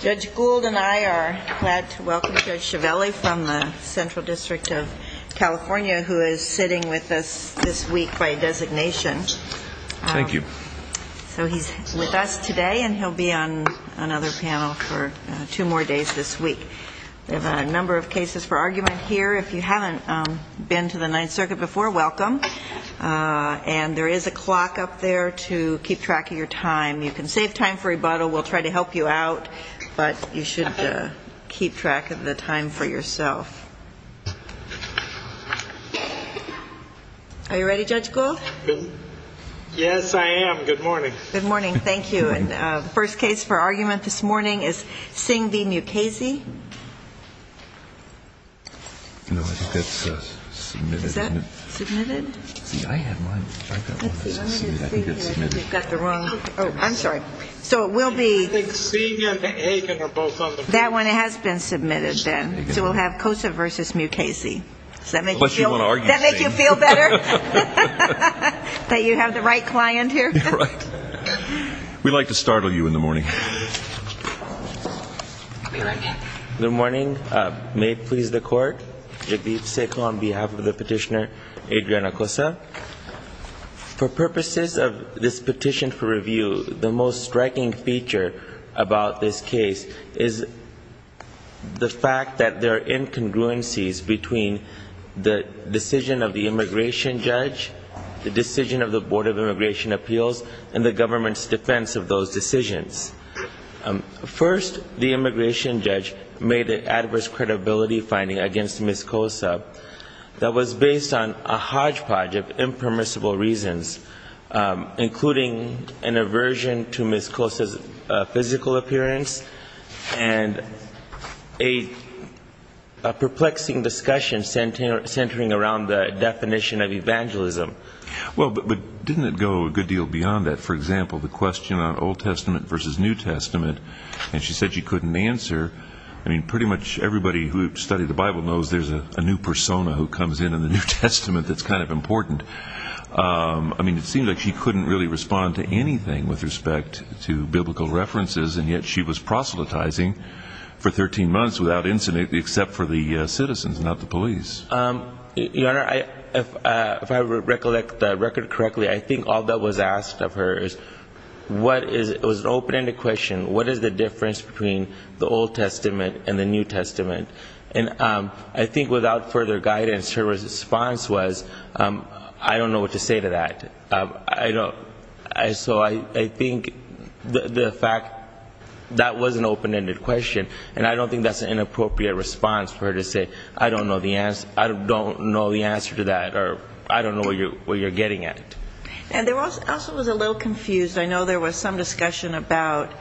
Judge Gould and I are glad to welcome Judge Chiavelli from the Central District of California who is sitting with us this week by designation. Thank you. So he's with us today and he'll be on another panel for two more days this week. We have a number of cases for argument here. If you haven't been to the Ninth Circuit before, welcome. And there is a clock up there to keep track of your time. You can save time for rebuttal. We'll try to help you out, but you should keep track of the time for yourself. Are you ready, Judge Gould? Yes, I am. Good morning. Good morning. Thank you. And the first case for argument this morning is Singh v. Mukasey. No, I think that's submitted. Is that submitted? See, I have mine. I've got one that's submitted. I think it's submitted. Let's see. I'm going to see if you've got the wrong... I think Singh and Aiken are both on the... That one has been submitted, Ben. So we'll have Kosa v. Mukasey. Does that make you feel... Unless you want to argue, Singh. Does that make you feel better that you have the right client here? You're right. We like to startle you in the morning. Good morning. May it please the Court, Yadiv Sekho on behalf of the petitioner Adriana Kosa. For purposes of this petition for review, the most striking feature about this case is the fact that there are incongruencies between the decision of the immigration judge, the decision of the Board of Immigration Appeals, and the government's defense of those decisions. First the immigration judge made an adverse credibility finding against Ms. Kosa that was based on a hodgepodge of impermissible reasons, including an aversion to Ms. Kosa's physical appearance and a perplexing discussion centering around the definition of evangelism. Well, but didn't it go a good deal beyond that? For example, the question on Old Testament versus New Testament, and she said she couldn't answer. I mean, pretty much everybody who studied the Bible knows there's a new persona who comes in in the New Testament that's kind of important. I mean, it seemed like she couldn't really respond to anything with respect to biblical references, and yet she was proselytizing for 13 months without incident, except for the citizens, not the police. Your Honor, if I recollect the record correctly, I think all that was asked of her is what is, it was an open-ended question, what is the difference between the Old Testament and the New Testament? And I think without further guidance, her response was, I don't know what to say to that. I don't, so I think the fact that was an open-ended question, and I don't think that's an inappropriate response for her to say, I don't know the answer to that, or I don't know what you're getting at. And there also was a little confused, I know there was some discussion about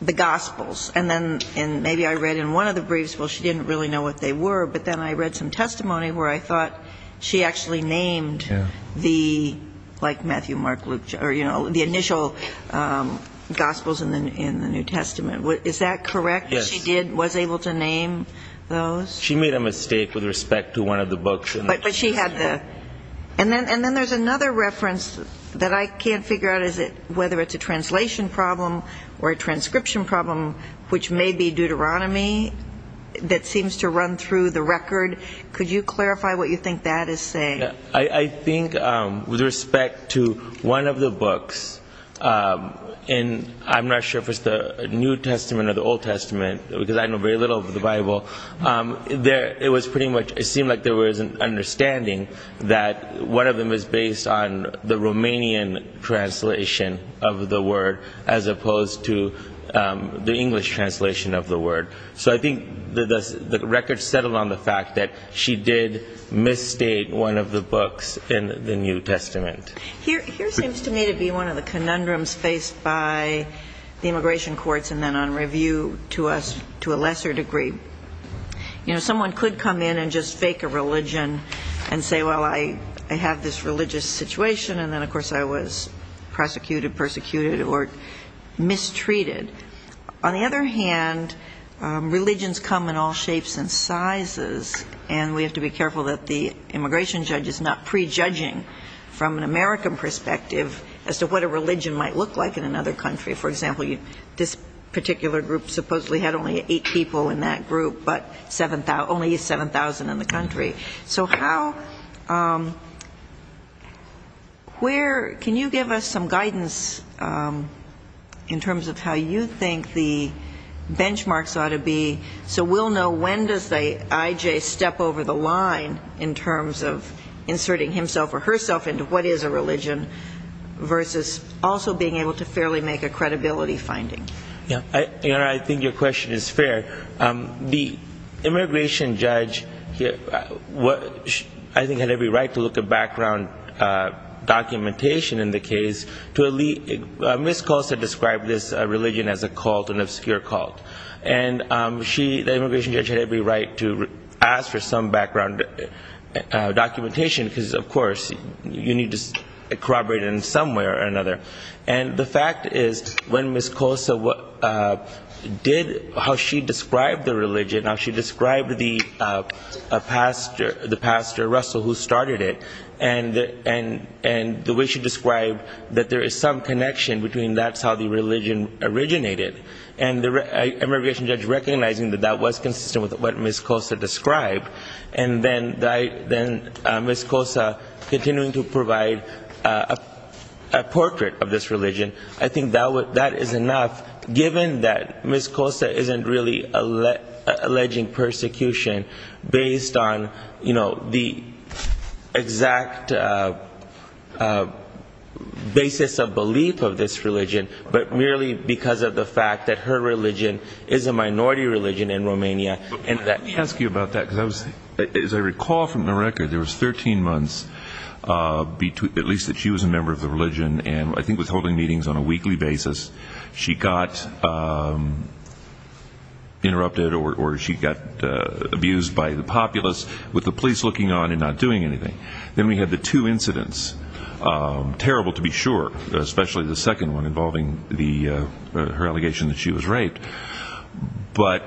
the Gospels, and then, and maybe I read in one of the briefs, well, she didn't really know what they were, but then I read some testimony where I thought she actually named the, like Matthew, Mark, Luke, or, you know, the initial Gospels in the New Testament. Is that correct? Yes. She did, was able to name those? She made a mistake with respect to one of the books. But she had the, and then there's another reference that I can't figure out, is it, whether it's a translation problem or a transcription problem, which may be Deuteronomy, that seems to run through the record. Could you clarify what you think that is saying? I think with respect to one of the books, in, I'm not sure if it's the New Testament or the Old Testament, because I know very little of the Bible, there, it was pretty much, it seemed like there was an understanding that one of them is based on the Romanian translation of the word as opposed to the English translation of the word. So I think the record settled on the fact that she did misstate one of the books in the New Testament. Here, here seems to me to be one of the conundrums faced by the immigration courts and then on review to us to a lesser degree. You know, someone could come in and just fake a religion and say, well, I have this religious situation and then, of course, I was prosecuted, persecuted, or mistreated. On the other hand, religions come in all shapes and sizes and we have to be careful that the immigration judge is not prejudging from an American perspective as to what a religion might look like in another country. For example, this particular group supposedly had only eight people in that group, but only 7,000 in the country. So how, where, can you give us some guidance in terms of how you think the benchmarks ought to be so we'll know when does the IJ step over the line in terms of inserting himself or herself into what is a religion versus also being able to fairly make a credibility finding? Yeah, I think your question is fair. The immigration judge, I think, had every right to look at background documentation in the case. Ms. Cosa described this religion as a cult, an obscure cult. And she, the immigration judge, had every right to ask for some background documentation because, of course, you need to corroborate it in some way or another. And the fact is, when Ms. Cosa did, how she described the religion, how she described the pastor, the pastor, Russell, who started it, and the way she described that there is some connection between that's how the religion originated, and the immigration judge recognizing that that was consistent with what Ms. Cosa described, and then Ms. Cosa continuing to of this religion, I think that is enough, given that Ms. Cosa isn't really alleging persecution based on, you know, the exact basis of belief of this religion, but merely because of the fact that her religion is a minority religion in Romania, and that Let me ask you about that, because as I recall from the record, there was 13 months, at least that she was a member of the religion, and I think was holding meetings on a weekly basis. She got interrupted or she got abused by the populace, with the police looking on and not doing anything. Then we had the two incidents, terrible to be sure, especially the second one involving the her allegation that she was raped. But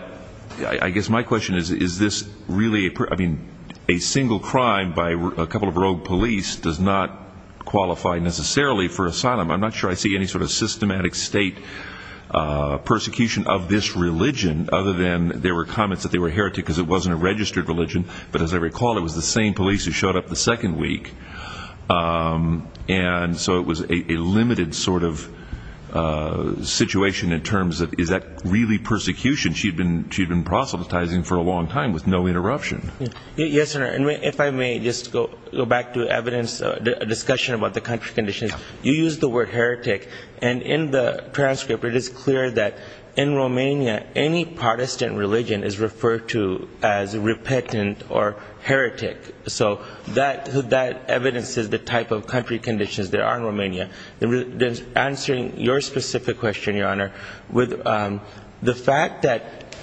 I guess my question is, is this really, I mean, a single crime by a couple of rogue police does not qualify necessarily for asylum. I'm not sure I see any sort of systematic state persecution of this religion, other than there were comments that they were heretic, because it wasn't a registered religion, but as I recall, it was the same police who showed up the second week. And so it was a limited sort of situation in terms of, is that really persecution? She'd been proselytizing for a long time with no interruption. Yes, sir. And if I may just go back to evidence, a discussion about the country conditions, you use the word heretic. And in the transcript, it is clear that in Romania, any Protestant religion is referred to as repentant or heretic. So that, that evidence is the type of country conditions there are in Romania. Answering your specific question, Your Honor, with the fact that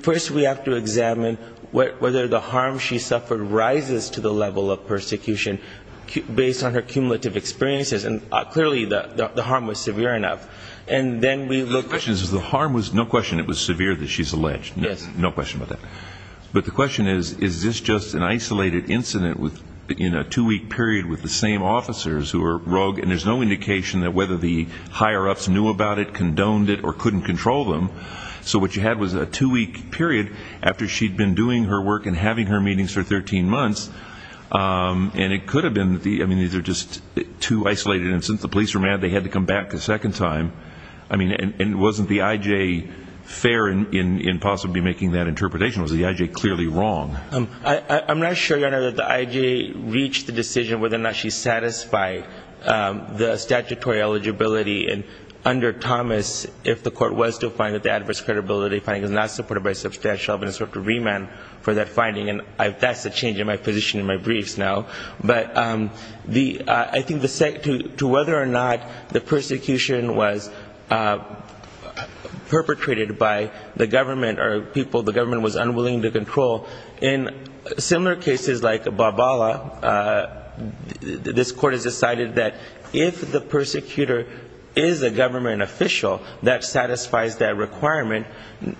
first we have to examine whether the harm she suffered rises to the level of persecution based on her cumulative experiences, and clearly the harm was severe enough. And then we look... The question is, the harm was, no question, it was severe that she's alleged. Yes. No question about that. But the question is, is this just an isolated incident in a two-week period with the same officers who are rogue, and there's no indication that whether the higher-ups knew about it, condoned it, or couldn't control them. So what you had was a two-week period after she'd been doing her work and having her meetings for 13 months, and it could have been that the, I mean, these are just two isolated incidents. The police were mad they had to come back a second time. I mean, and wasn't the I.J. fair in possibly making that interpretation? Was the I.J. clearly wrong? I'm not sure, Your Honor, that the I.J. reached the decision whether or not she satisfied the statutory eligibility. And under Thomas, if the court was to find that the adverse credibility finding is not supported by substantial evidence, we have to remand for that finding. And that's a change in my position in my briefs now. But I think the... To whether or not the persecution was perpetrated by the government or people the government was unwilling to control, in similar cases like Barbala, this court has decided that if the persecutor is a government official that satisfies that requirement,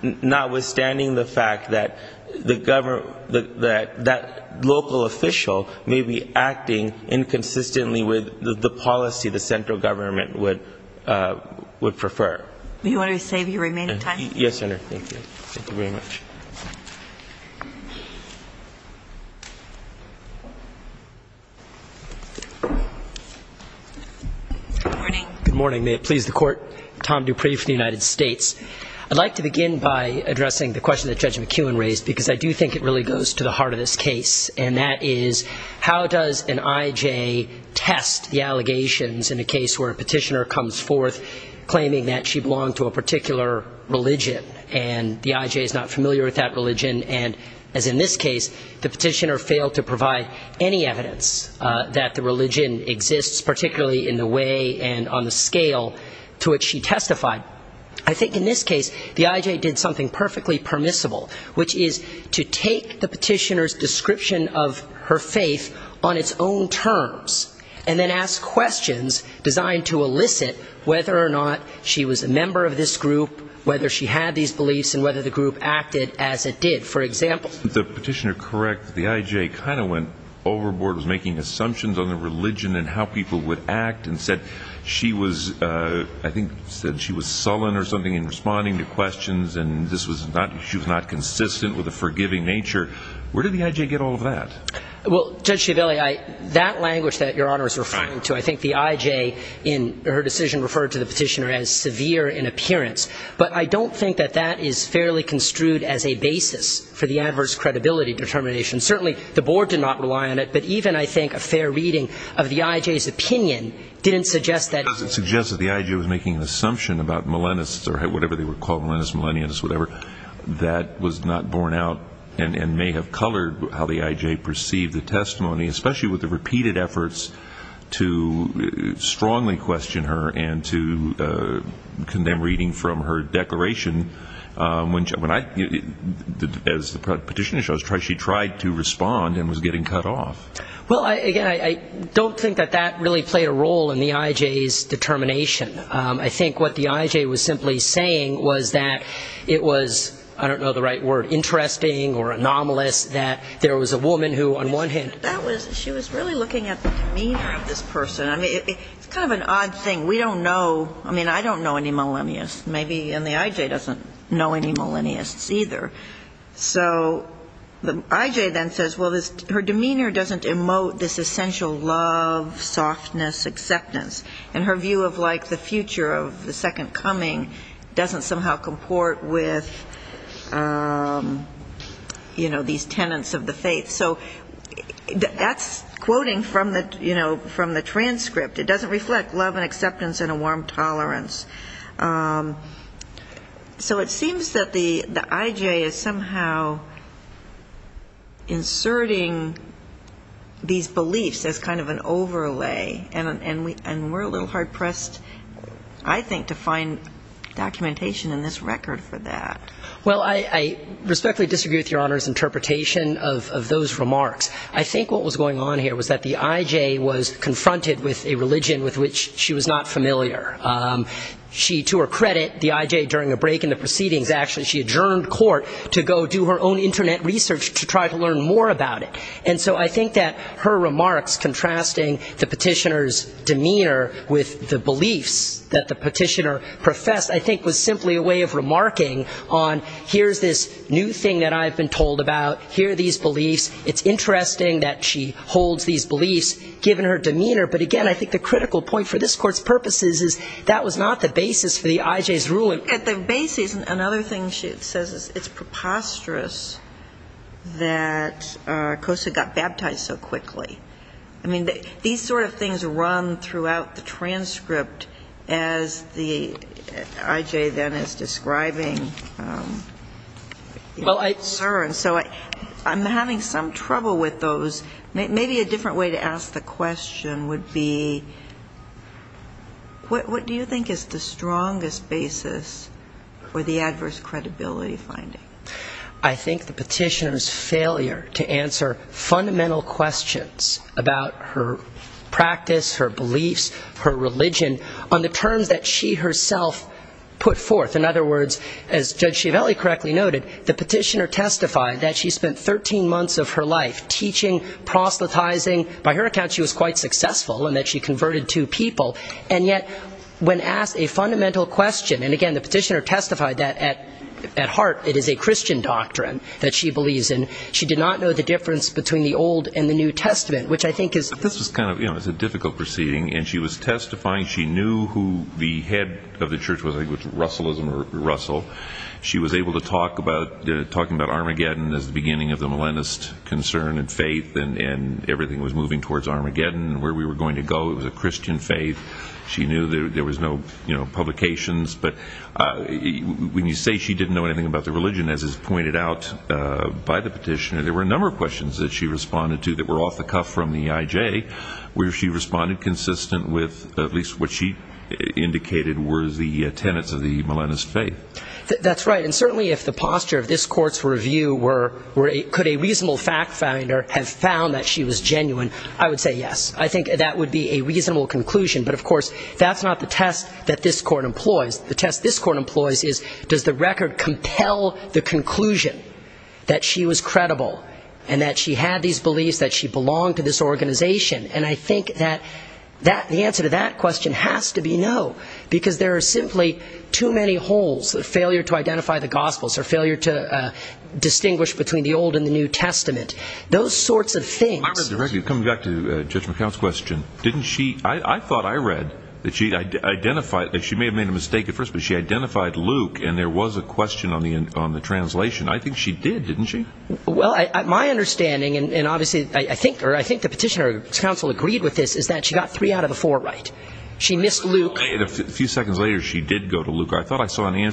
notwithstanding the fact that the government, that local official may be acting inconsistently with the policy the central government would prefer. Do you want to save your remaining time? Yes, Your Honor, thank you, thank you very much. Good morning. Good morning. May it please the court. Tom Dupree from the United States. I'd like to begin by addressing the question that Judge McEwen raised, because I do think it really goes to the heart of this case, and that is, how does an I.J. test the allegations in a case where a petitioner comes forth claiming that she belonged to a particular religion and the I.J. is not familiar with that religion, and as in this case, the petitioner failed to provide any evidence that the religion exists, particularly in the way and on the scale to which she testified. I think in this case, the I.J. did something perfectly permissible, which is to take the petitioner's description of her faith on its own terms and then ask questions designed to elicit whether or not she was a member of this group, whether she had these beliefs and whether the group acted as it did. For example, the petitioner correct, the I.J. kind of went overboard, was making assumptions on the religion and how people would act and said she was, I think, said she was sullen or something in responding to questions and this was not, she was not consistent with a forgiving nature. Where did the I.J. get all of that? Well, Judge Schiavelli, that language that Your Honor is referring to, I think the I.J. in her decision referred to the petitioner as severe in appearance, but I don't think that that is fairly construed as a basis for the adverse credibility determination. Certainly the Board did not rely on it, but even, I think, a fair reading of the I.J.'s opinion didn't suggest that. It doesn't suggest that the I.J. was making an assumption about millennialists or whatever they were called, millennialists, whatever, that was not borne out and may have colored how the I.J. perceived the testimony, especially with the repeated efforts to strongly question her and to condemn reading from her declaration. As the petitioner shows, she tried to respond and was getting cut off. Well, again, I don't think that that really played a role in the I.J.'s determination. I think what the I.J. was simply saying was that it was, I don't know the right word, interesting or anomalous that there was a woman who, on one hand... That was, she was really looking at the demeanor of this person. I mean, it's kind of an odd thing. We don't know, I mean, I don't know any millennialists, maybe, and the I.J. doesn't know any millennialists either. So the I.J. then says, well, her demeanor doesn't emote this essential love, softness, acceptance. And her view of, like, the future of the second coming doesn't somehow comport with, you know, these tenets of the faith. So that's quoting from the, you know, from the transcript. It doesn't reflect love and acceptance and a warm tolerance. So it seems that the I.J. is somehow inserting these beliefs as kind of an overlay, and we're a little hard-pressed, I think, to find documentation in this record for that. Well, I respectfully disagree with Your Honor's interpretation of those remarks. I think what was going on here was that the I.J. was confronted with a religion with which she was not familiar. She, to her credit, the I.J., during a break in the proceedings, actually, she adjourned court to go do her own Internet research to try to learn more about it. And so I think that her remarks contrasting the petitioner's demeanor with the beliefs that the petitioner professed, I think, was simply a way of remarking on, here's this new thing that I've been told about. Here are these beliefs. It's interesting that she holds these beliefs, given her demeanor. But again, I think the critical point for this Court's purpose is that was not the basis for the I.J.'s ruling. At the basis, another thing she says is it's preposterous that Cosa got baptized so quickly. I mean, these sort of things run throughout the transcript, as the I.J. then is describing. And so I'm having some trouble with those. Maybe a different way to ask the question would be, what do you think is the strongest basis for the adverse credibility finding? I think the petitioner's failure to answer fundamental questions about her practice, her beliefs, her religion, on the terms that she herself put forth. In other words, as Judge Schiavelli correctly noted, the petitioner testified that she spent 13 months of her life teaching, proselytizing. By her account, she was quite successful in that she converted two people. And yet, when asked a fundamental question, and again, the petitioner testified that at the time, she had a Christian doctrine that she believes in. She did not know the difference between the Old and the New Testament, which I think is But this was kind of, you know, it was a difficult proceeding. And she was testifying. She knew who the head of the church was, I think it was Russellism or Russell. She was able to talk about, talking about Armageddon as the beginning of the millennialist concern and faith, and everything was moving towards Armageddon and where we were going to go. It was a Christian faith. She knew there was no, you know, publications. But when you say she didn't know anything about the religion, as is pointed out by the petitioner, there were a number of questions that she responded to that were off the cuff from the IJ, where she responded consistent with at least what she indicated were the tenets of the millennialist faith. That's right. And certainly, if the posture of this Court's review were, could a reasonable fact finder have found that she was genuine, I would say yes. I think that would be a reasonable conclusion. But of course, that's not the test that this Court employs. The test this Court employs is, does the record compel the conclusion that she was credible and that she had these beliefs, that she belonged to this organization? And I think that the answer to that question has to be no, because there are simply too many holes, the failure to identify the Gospels, her failure to distinguish between the Old and the New Testament. Those sorts of things. Well, I read the record. Coming back to Judge McHale's question, didn't she, I thought I read that she identified, she may have made a mistake at first, but she identified Luke and there was a question on the translation. I think she did, didn't she? Well, my understanding, and obviously, I think the petitioner's counsel agreed with this, is that she got three out of the four right. She missed Luke. A few seconds later, she did go to Luke. Go ahead. You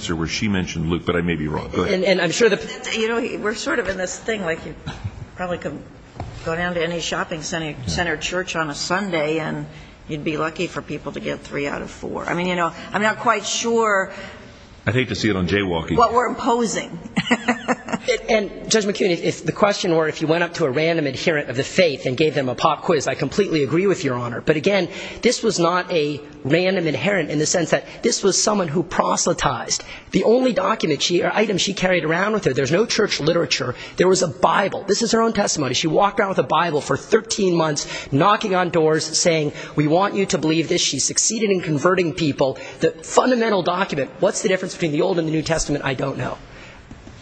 know, we're sort of in this thing, like you probably could go down to any shopping center church on a Sunday and you'd be lucky for people to get three out of four. I mean, you know, I'm not quite sure what we're imposing. And Judge McHale, if the question were if you went up to a random adherent of the faith and gave them a pop quiz, I completely agree with Your Honor. But again, this was not a random adherent in the sense that this was someone who proselytized. The only document or item she carried around with her, there's no church literature, there was a Bible. This is her own testimony. She walked around with a Bible for 13 months, knocking on doors, saying, we want you to believe this. She succeeded in converting people. The fundamental document, what's the difference between the Old and the New Testament? I don't know.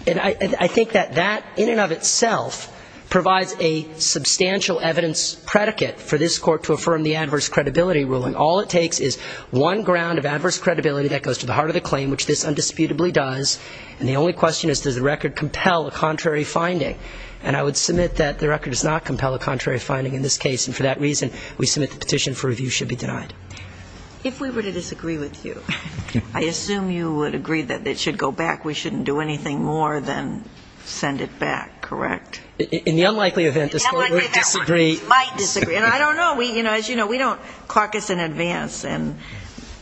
And I think that that, in and of itself, provides a substantial evidence predicate for this court to affirm the adverse credibility ruling. All it takes is one ground of adverse credibility that goes to the heart of the claim, which this undisputably does. And the only question is, does the record compel a contrary finding? And I would submit that the record does not compel a contrary finding in this case. And for that reason, we submit the petition for review should be denied. If we were to disagree with you, I assume you would agree that it should go back. We shouldn't do anything more than send it back, correct? In the unlikely event this court would disagree. In the unlikely event this court might disagree. And I don't know. We, you know, as you know, we don't caucus in advance. And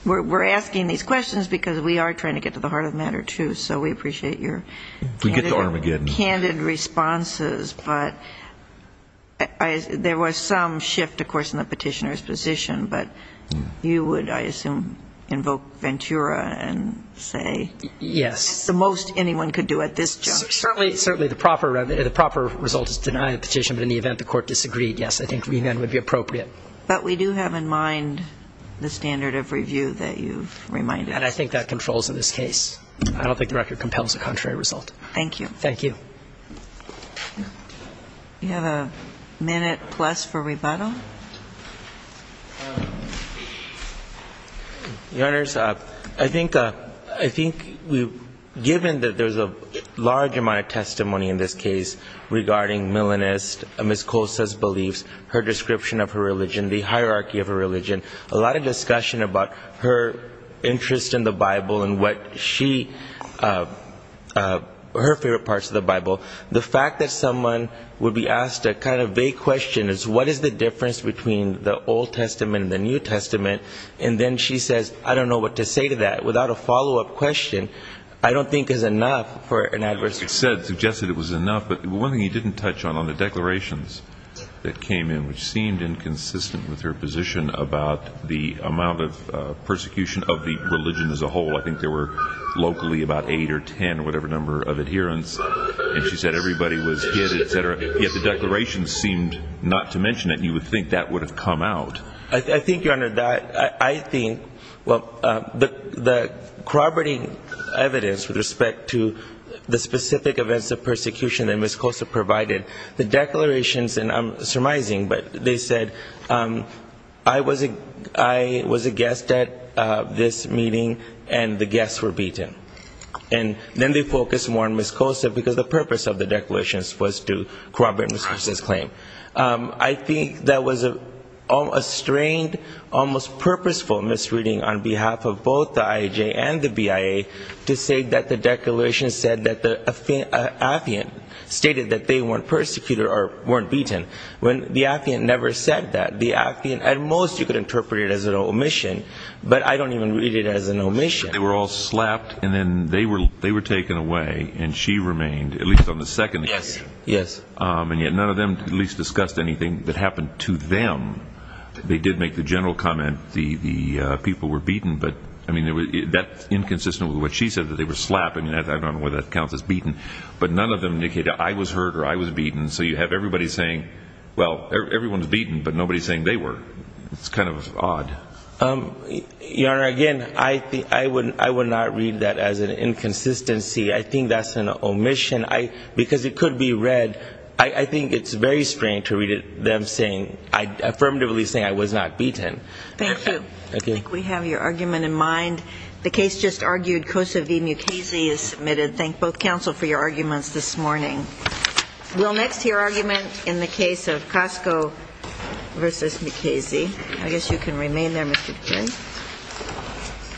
we're asking these questions because we are trying to get to the heart of the matter, too. So we appreciate your candid responses. We get to Armageddon. But there was some shift, of course, in the petitioner's position. But you would, I assume, invoke Ventura and say, it's the most anyone could do at this juncture. Certainly. Certainly. The proper result is to deny the petition. But in the event the court disagreed, yes, I think we then would be appropriate. But we do have in mind the standard of review that you've reminded us of. And I think that controls in this case. I don't think the record compels a contrary result. Thank you. Thank you. We have a minute plus for rebuttal. Your Honors, I think we've, given that there's a large amount of testimony in this case regarding Ms. Cosa's beliefs, her description of her religion, the hierarchy of her religion, a lot of discussion about her interest in the Bible and what she, her favorite parts of the Bible. The fact that someone would be asked a kind of vague question is, what is the difference between the Old Testament and the New Testament? And then she says, I don't know what to say to that. Without a follow-up question, I don't think is enough for an adversary. What you said suggested it was enough, but one thing you didn't touch on, on the declarations that came in, which seemed inconsistent with her position about the amount of persecution of the religion as a whole, I think there were locally about eight or ten or whatever number of adherents, and she said everybody was hit, et cetera, yet the declarations seemed not to mention it. And you would think that would have come out. I think, Your Honor, that, I think, well, the corroborating evidence with respect to the specific events of persecution that Ms. Cosa provided, the declarations, and I'm surmising, but they said, I was a, I was a guest at this meeting and the guests were beaten. And then they focused more on Ms. Cosa because the purpose of the declarations was to corroborate Ms. Cosa's claim. I think that was a, a strained, almost purposeful misreading on behalf of both the IAJ and the Atheist, that the Atheist stated that they weren't persecuted or weren't beaten, when the Atheist never said that. The Atheist, at most, you could interpret it as an omission, but I don't even read it as an omission. They were all slapped and then they were taken away and she remained, at least on the second occasion. Yes, yes. And yet none of them at least discussed anything that happened to them. They did make the general comment the people were beaten, but, I mean, that's inconsistent with what she said, that they were slapped. I mean, I don't know whether that counts as beaten, but none of them indicated I was hurt or I was beaten. So you have everybody saying, well, everyone's beaten, but nobody's saying they were. It's kind of odd. Um, Your Honor, again, I think, I would, I would not read that as an inconsistency. I think that's an omission. I, because it could be read, I, I think it's very strange to read it, them saying, affirmatively saying I was not beaten. Thank you. Okay. I think we have your argument in mind. The case just argued, Cosa v. Mukasey is submitted. Thank both counsel for your arguments this morning. We'll next hear argument in the case of Cosco v. Mukasey. I guess you can remain there, Mr. Quinn.